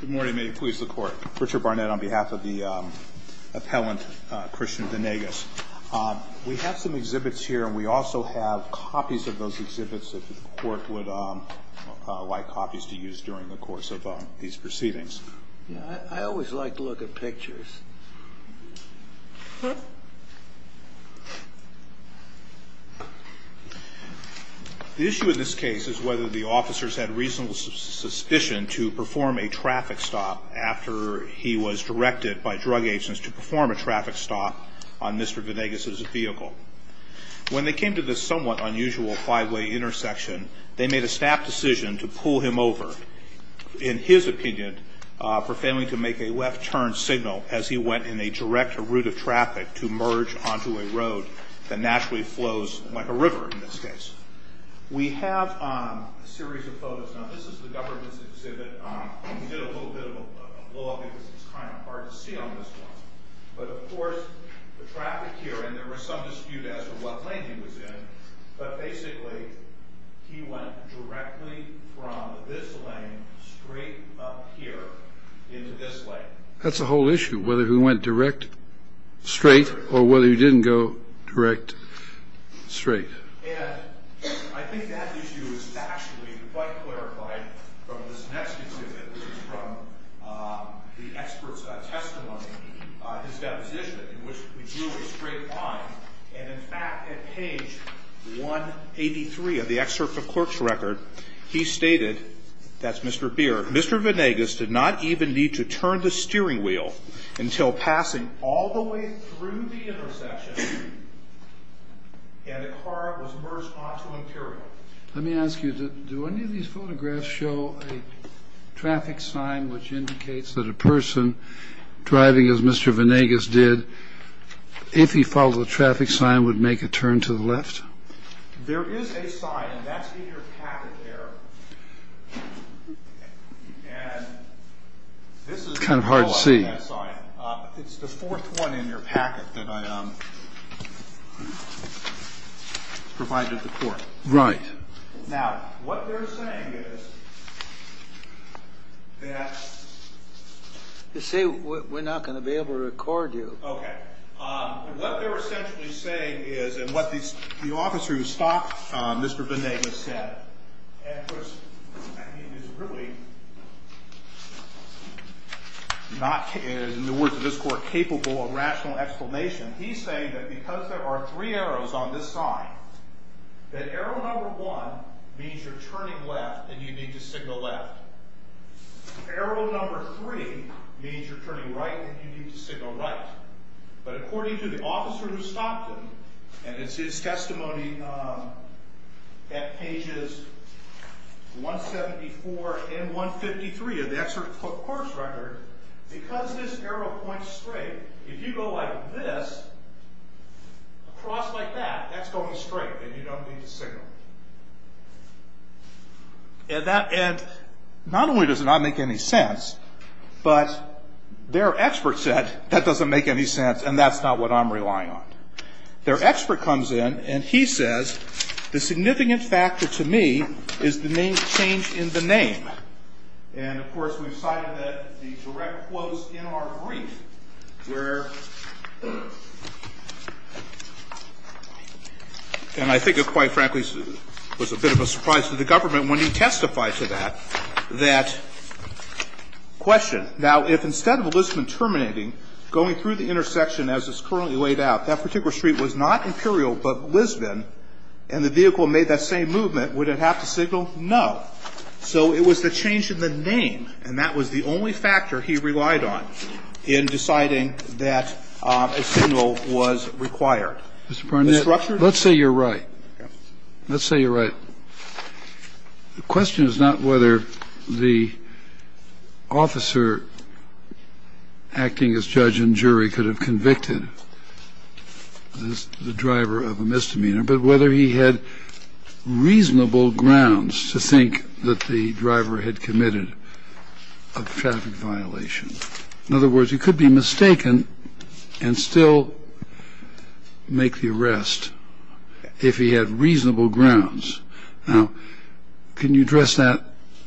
Good morning, may it please the court. Richard Barnett on behalf of the appellant Christian Venegas. We have some exhibits here and we also have copies of those exhibits that the court would like copies to use during the course of these proceedings. I always like to look at pictures. The issue in this case is whether the officers had reasonable suspicion to perform a traffic stop after he was directed by drug agents to perform a traffic stop on Mr. Venegas's vehicle. When they came to this somewhat unusual five-way intersection, they made a snap decision to pull him over. In his opinion, for failing to make a left turn signal as he went in a direct route of traffic to merge onto a road that naturally flows like a river in this case. We have a series of photos. Now this is the government's exhibit. We did a little bit of a blog because it's kind of hard to see on this one. But of course the traffic here and there was some dispute as to what lane he was in. But basically he went directly from this lane straight up here into this lane. That's the whole issue whether he went direct straight or whether he didn't go direct straight. And I think that issue is actually quite clarified from this next exhibit, which is from the expert's testimony, his deposition in which we drew a straight line. And in fact, at page 183 of the excerpt of clerk's record, he stated, that's Mr. Beer, Mr. Vanegas did not even need to turn the steering wheel until passing all the way through the intersection. And the car was merged onto Imperial. Let me ask you, do any of these photographs show a traffic sign which indicates that a person driving as Mr. Kind of hard to see. It's the fourth one in your packet that I provided the court. Right now, what they're saying is that they say we're not going to be able to record you. What they're essentially saying is, and what the officer who stopped Mr. Vanegas said, and it was really not, in the words of this court, capable of rational explanation. He's saying that because there are three arrows on this sign, that arrow number one means you're turning left and you need to signal left. Arrow number three means you're turning right and you need to signal right. But according to the officer who stopped him, and it's his testimony at pages 174 and 153 of the excerpt of clerk's record, because this arrow points straight, if you go like this, across like that, that's going straight and you don't need to signal. And not only does it not make any sense, but their expert said that doesn't make any sense and that's not what I'm relying on. Their expert comes in and he says the significant factor to me is the main change in the name. And, of course, we've cited the direct quotes in our brief where, and I think quite frankly, it was a bit of a surprise to the government when he testified to that, that question. Now, if instead of Lisbon terminating, going through the intersection as it's currently laid out, that particular street was not Imperial but Lisbon and the vehicle made that same movement, would it have to signal? No. So it was the change in the name, and that was the only factor he relied on in deciding that a signal was required. Mr. Barnett, let's say you're right. Let's say you're right. The question is not whether the officer acting as judge and jury could have convicted the driver of a misdemeanor, but whether he had reasonable grounds to think that the driver had committed a traffic violation. In other words, you could be mistaken and still make the arrest if he had reasonable grounds. Now, can you address that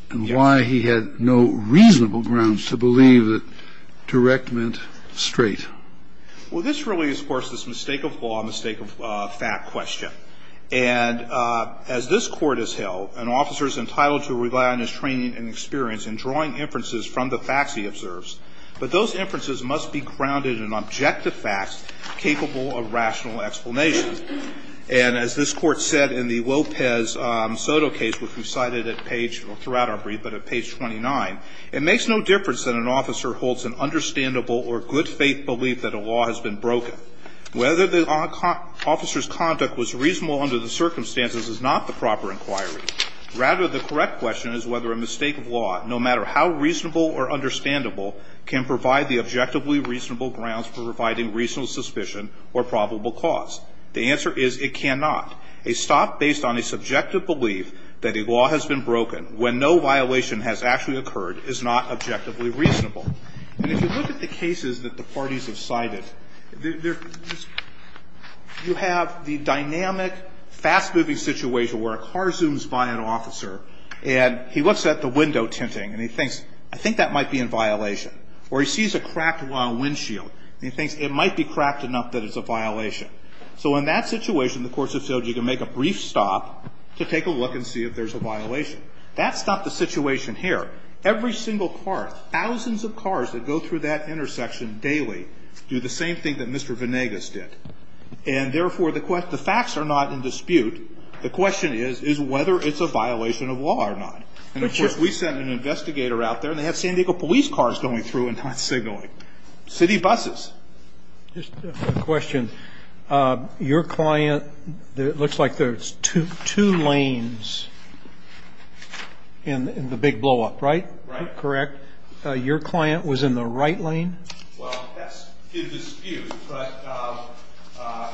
and why he had no reasonable grounds to believe that direct meant straight? Well, this really is, of course, this mistake of law, mistake of fact question. And as this Court has held, an officer is entitled to rely on his training and experience in drawing inferences from the facts he observes. But those inferences must be grounded in objective facts capable of rational explanation. And as this Court said in the Lopez-Soto case, which we cited at page or throughout our brief, but at page 29, it makes no difference that an officer holds an understandable or good-faith belief that a law has been broken. Whether the officer's conduct was reasonable under the circumstances is not the proper inquiry. Rather, the correct question is whether a mistake of law, no matter how reasonable or understandable, can provide the objectively reasonable grounds for providing reasonable suspicion or probable cause. The answer is it cannot. A stop based on a subjective belief that a law has been broken when no violation has actually occurred is not objectively reasonable. And if you look at the cases that the parties have cited, you have the dynamic, fast-moving situation where a car zooms by an officer and he looks at the window tinting and he thinks, I think that might be in violation. Or he sees a cracked windshield and he thinks it might be cracked enough that it's a violation. So in that situation, the courts have said you can make a brief stop to take a look and see if there's a violation. That's not the situation here. Every single car, thousands of cars that go through that intersection daily do the same thing that Mr. Venegas did. And, therefore, the facts are not in dispute. The question is, is whether it's a violation of law or not. And, of course, we sent an investigator out there and they have San Diego police cars going through and not signaling. City buses. Just a question. Your client, it looks like there's two lanes in the big blow-up, right? Right. Correct. Your client was in the right lane? Well, that's in dispute. But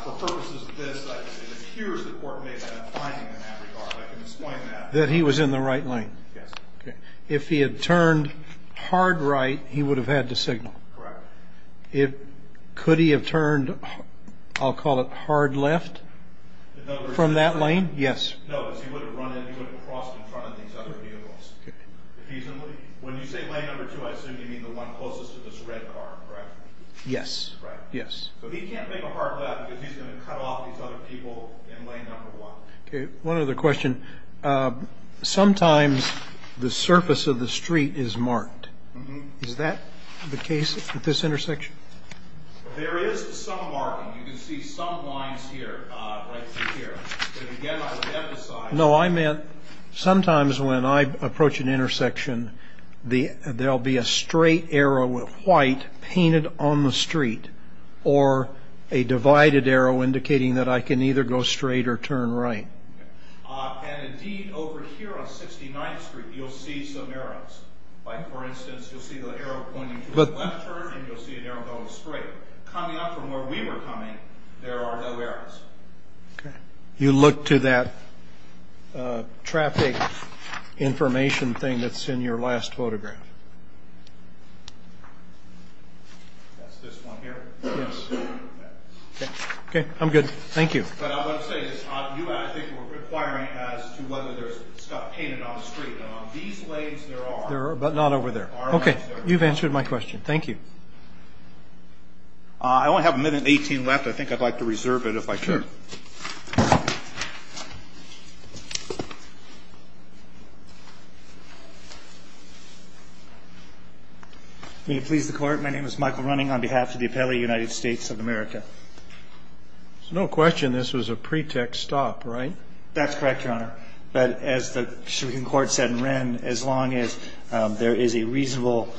for purposes of this, it appears the court made a finding in that regard. I can explain that. That he was in the right lane. Yes. Okay. If he had turned hard right, he would have had to signal. Correct. Could he have turned, I'll call it hard left from that lane? Yes. No, because he would have run in. He would have crossed in front of these other vehicles. Okay. When you say lane number two, I assume you mean the one closest to this red car, correct? Yes. Right. Yes. So he can't make a hard left because he's going to cut off these other people in lane number one. Okay. One other question. Sometimes the surface of the street is marked. Is that the case at this intersection? There is some marking. You can see some lines here, right through here. But, again, I would emphasize. No, I meant sometimes when I approach an intersection, there will be a straight arrow with white painted on the street, or a divided arrow indicating that I can either go straight or turn right. And, indeed, over here on 69th Street, you'll see some arrows. Like, for instance, you'll see the arrow pointing to the left turn, and you'll see an arrow going straight. Coming up from where we were coming, there are no arrows. Okay. You look to that traffic information thing that's in your last photograph. That's this one here? Yes. Okay. I'm good. Thank you. But I want to say this. You, I think, were requiring as to whether there's stuff painted on the street. And on these lanes, there are. There are, but not over there. Okay. You've answered my question. Thank you. I only have a minute and 18 left. I think I'd like to reserve it, if I could. Sure. May it please the Court? My name is Michael Running on behalf of the Appellate United States of America. There's no question this was a pretext stop, right? That's correct, Your Honor. But as the Supreme Court said in Wren, as long as there is a reasonable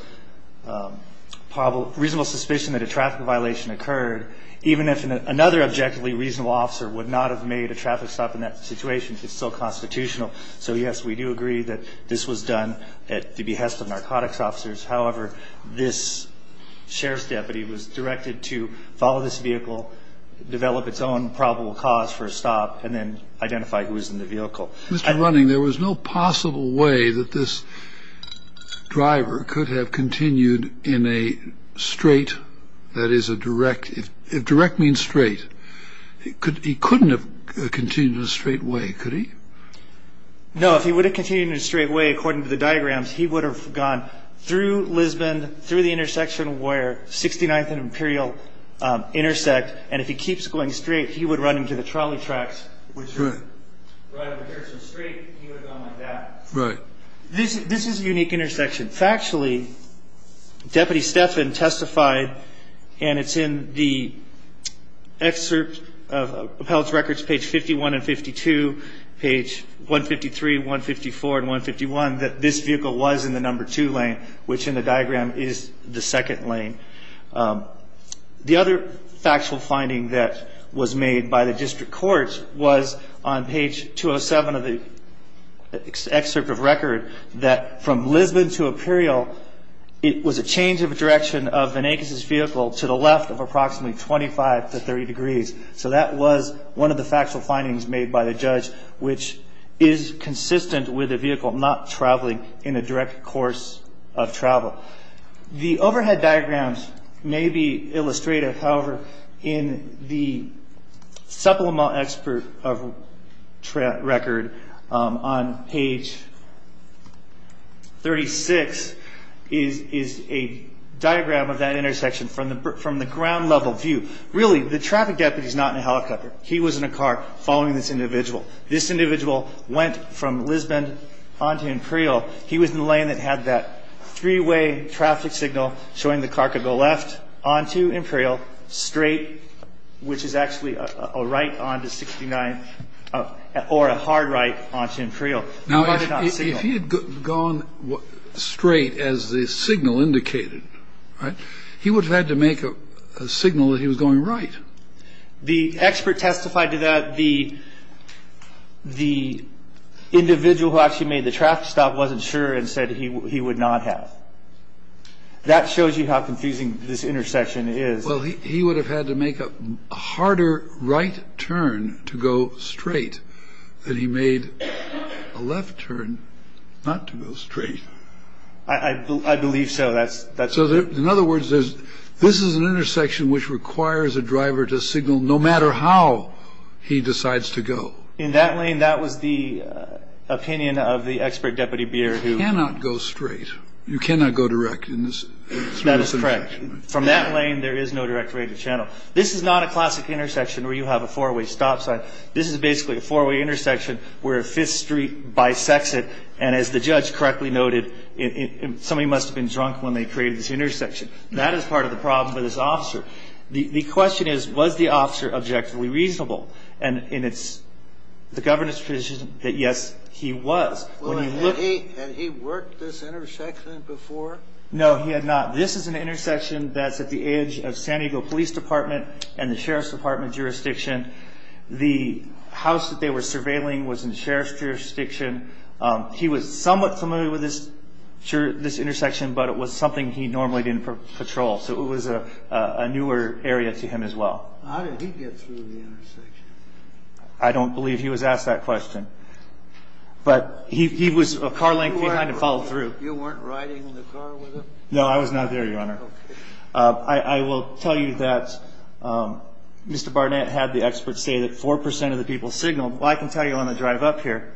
suspicion that a traffic violation occurred, even if another objectively reasonable officer would not have made a traffic stop in that situation, it's still constitutional. So, yes, we do agree that this was done at the behest of narcotics officers. However, this sheriff's deputy was directed to follow this vehicle, develop its own probable cause for a stop, and then identify who was in the vehicle. Mr. Running, there was no possible way that this driver could have continued in a straight, that is a direct, if direct means straight, he couldn't have continued in a straight way, could he? No. If he would have continued in a straight way, according to the diagrams, he would have gone through Lisbon, through the intersection where 69th and Imperial intersect, and if he keeps going straight, he would run into the trolley tracks, which are right over here, so straight, he would have gone like that. Right. This is a unique intersection. Factually, Deputy Stephan testified, and it's in the excerpt of appellate's records, page 51 and 52, page 153, 154, and 151, that this vehicle was in the number two lane, which in the diagram is the second lane. The other factual finding that was made by the district court was on page 207 of the excerpt of record, that from Lisbon to Imperial, it was a change of direction of Van Akes' vehicle to the left of approximately 25 to 30 degrees, so that was one of the factual findings made by the judge, which is consistent with a vehicle not traveling in a direct course of travel. In the supplemental excerpt of record, on page 36, is a diagram of that intersection from the ground level view. Really, the traffic deputy is not in a helicopter. He was in a car following this individual. This individual went from Lisbon onto Imperial. He was in a lane that had that three-way traffic signal showing the car could go left onto Imperial, straight, which is actually a right onto 69th or a hard right onto Imperial. Now, if he had gone straight as the signal indicated, right, he would have had to make a signal that he was going right. The expert testified to that the individual who actually made the traffic stop wasn't sure and said he would not have. That shows you how confusing this intersection is. Well, he would have had to make a harder right turn to go straight than he made a left turn not to go straight. I believe so. So, in other words, this is an intersection which requires a driver to signal no matter how he decides to go. In that lane, that was the opinion of the expert deputy Beer. You cannot go straight. You cannot go direct in this intersection. From that lane, there is no direct radio channel. This is not a classic intersection where you have a four-way stop sign. This is basically a four-way intersection where a fifth street bisects it, and as the judge correctly noted, somebody must have been drunk when they created this intersection. That is part of the problem with this officer. The question is, was the officer objectively reasonable? And it's the governance position that, yes, he was. Had he worked this intersection before? No, he had not. This is an intersection that's at the edge of San Diego Police Department and the Sheriff's Department jurisdiction. The house that they were surveilling was in the Sheriff's jurisdiction. He was somewhat familiar with this intersection, but it was something he normally didn't patrol, so it was a newer area to him as well. How did he get through the intersection? I don't believe he was asked that question, but he was a car length behind and followed through. You weren't riding in the car with him? No, I was not there, Your Honor. I will tell you that Mr. Barnett had the experts say that 4% of the people signaled. Well, I can tell you on the drive up here,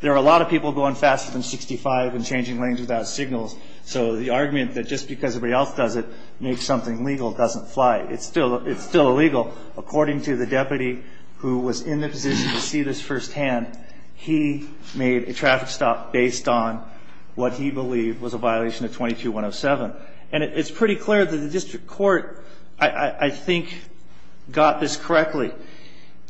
there are a lot of people going faster than 65 and changing lanes without signals, so the argument that just because everybody else does it makes something legal doesn't fly. It's still illegal. According to the deputy who was in the position to see this firsthand, he made a traffic stop based on what he believed was a violation of 22-107, and it's pretty clear that the district court, I think, got this correctly.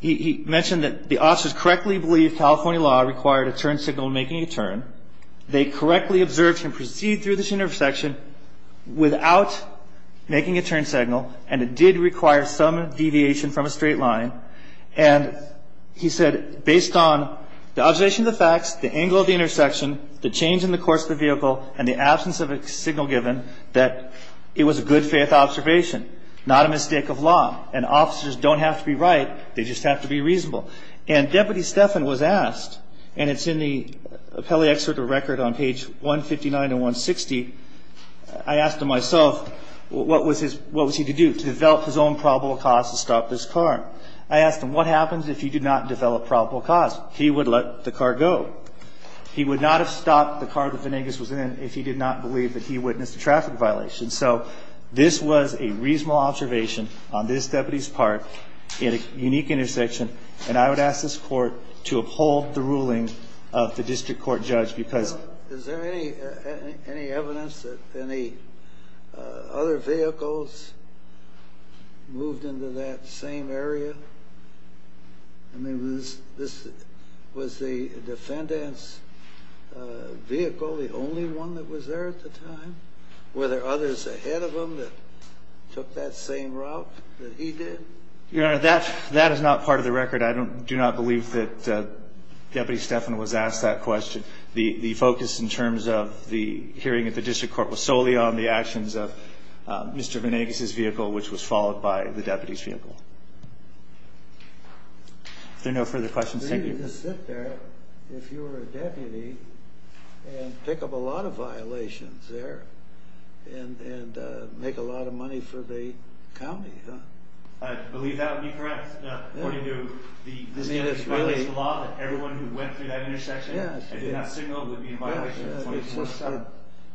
He mentioned that the officers correctly believed California law required a turn signal making a turn. They correctly observed him proceed through this intersection without making a turn signal, and it did require some deviation from a straight line, and he said based on the observation of the facts, the angle of the intersection, the change in the course of the vehicle, and the absence of a signal given, that it was a good-faith observation, not a mistake of law, and officers don't have to be right, they just have to be reasonable. And Deputy Stephan was asked, and it's in the appellee excerpt of record on page 159 and 160, I asked him myself what was he to do to develop his own probable cause to stop this car. I asked him, what happens if you do not develop probable cause? He would let the car go. He would not have stopped the car that Venegas was in if he did not believe that he witnessed a traffic violation. So this was a reasonable observation on this deputy's part in a unique intersection, and I would ask this court to uphold the ruling of the district court judge because... Were other vehicles moved into that same area? I mean, was the defendant's vehicle the only one that was there at the time? Were there others ahead of him that took that same route that he did? Your Honor, that is not part of the record. I do not believe that Deputy Stephan was asked that question. The focus in terms of the hearing at the district court was solely on the actions of Mr. Venegas's vehicle, which was followed by the deputy's vehicle. If there are no further questions, thank you. I believe you could sit there, if you were a deputy, and pick up a lot of violations there and make a lot of money for the county, huh? I believe that would be correct.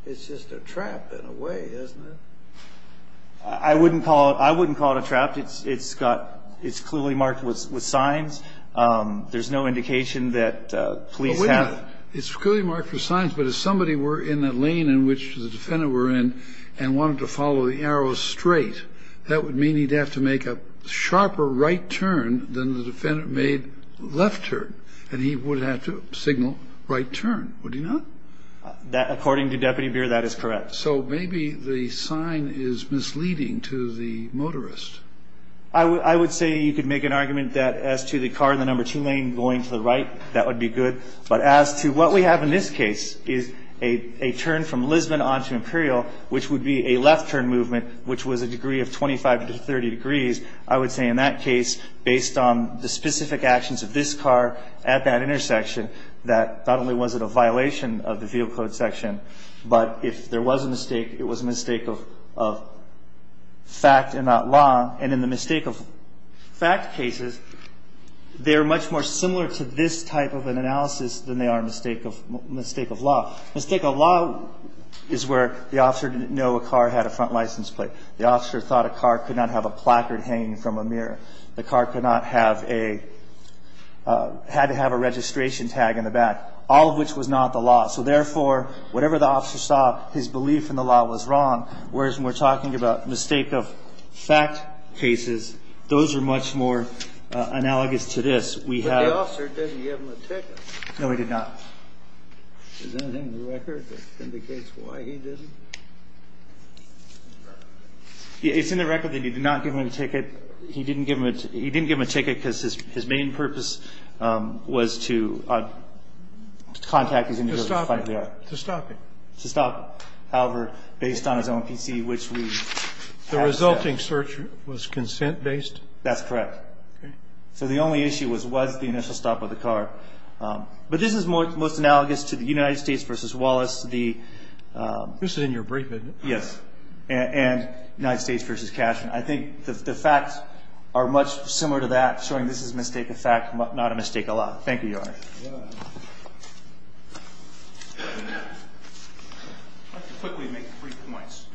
It's just a trap in a way, isn't it? I wouldn't call it a trap. It's clearly marked with signs. There's no indication that police have... It's clearly marked with signs, but if somebody were in the lane in which the defendant were in and wanted to follow the arrow straight, that would mean he'd have to make a sharper right turn than the defendant made left turn, and he would have to signal right turn, would he not? According to Deputy Beer, that is correct. So maybe the sign is misleading to the motorist. I would say you could make an argument that as to the car in the number two lane going to the right, that would be good. But as to what we have in this case is a turn from Lisbon on to Imperial, which would be a left turn movement, which was a degree of 25 to 30 degrees. I would say in that case, based on the specific actions of this car at that intersection, that not only was it a violation of the vehicle code section, but if there was a mistake, it was a mistake of fact and not law. And in the mistake of fact cases, they're much more similar to this type of an analysis than they are a mistake of law. Mistake of law is where the officer didn't know a car had a front license plate. The officer thought a car could not have a placard hanging from a mirror. The car could not have a – had to have a registration tag in the back, all of which was not the law. So, therefore, whatever the officer saw, his belief in the law was wrong, whereas when we're talking about mistake of fact cases, those are much more analogous to this. We have – But the officer didn't give him a ticket. No, he did not. Is there anything in the record that indicates why he didn't? It's in the record that he did not give him a ticket. He didn't give him a ticket because his main purpose was to contact his individual. To stop him. To stop him. However, based on his own PC, which we have set. The resulting search was consent-based? That's correct. Okay. So the only issue was, was the initial stop of the car. But this is most analogous to the United States v. Wallace, the – This is in your brief, isn't it? Yes. And United States v. Cashman. I think the facts are much similar to that, showing this is mistake of fact, not a mistake of law. Thank you, Your Honor. I'd like to quickly make three points.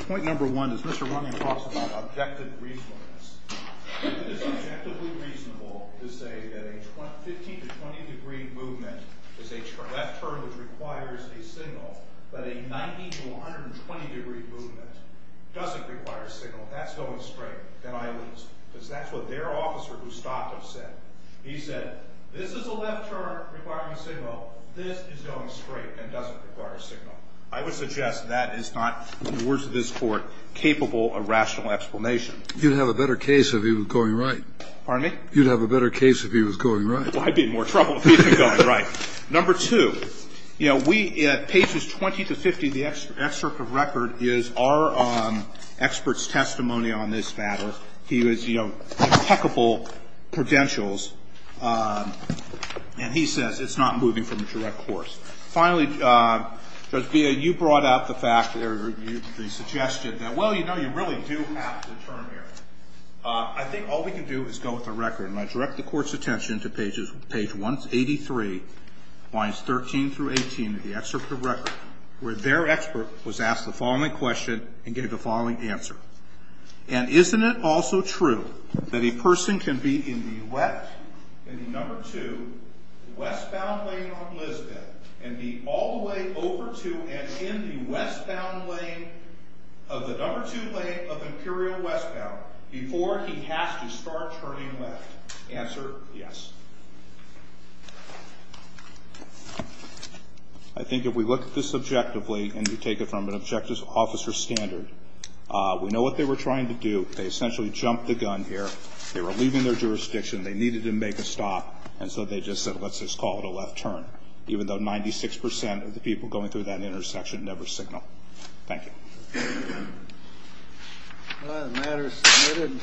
Point number one is Mr. Runyon talks about objective reasonableness. It is objectively reasonable to say that a 15 to 20 degree movement is a left turn which requires a signal. But a 90 to 120 degree movement doesn't require a signal. That's going straight. And I lose. Because that's what their officer who stopped him said. He said, this is a left turn requiring a signal. This is going straight and doesn't require a signal. I would suggest that is not, in the words of this Court, capable of rational explanation. You'd have a better case if he was going right. Pardon me? You'd have a better case if he was going right. Well, I'd be in more trouble if he was going right. Number two, you know, we at pages 20 to 50, the excerpt of record is our expert's testimony on this matter. He was, you know, impeccable credentials. And he says it's not moving from a direct course. Finally, Judge Villa, you brought out the fact or the suggestion that, well, you know, you really do have to turn here. I think all we can do is go with the record. And I direct the Court's attention to pages 183, lines 13 through 18 of the excerpt of record, where their expert was asked the following question and gave the following answer. And isn't it also true that a person can be in the left, in the number two, westbound lane on Lisbon, and be all the way over to and in the westbound lane of the number two lane of Imperial Westbound before he has to start turning left? Answer, yes. I think if we look at this objectively and we take it from an objective officer standard, we know what they were trying to do. They essentially jumped the gun here. They were leaving their jurisdiction. They needed to make a stop. And so they just said, let's just call it a left turn, even though 96 percent of the people going through that intersection never signaled. Thank you. The matter is submitted.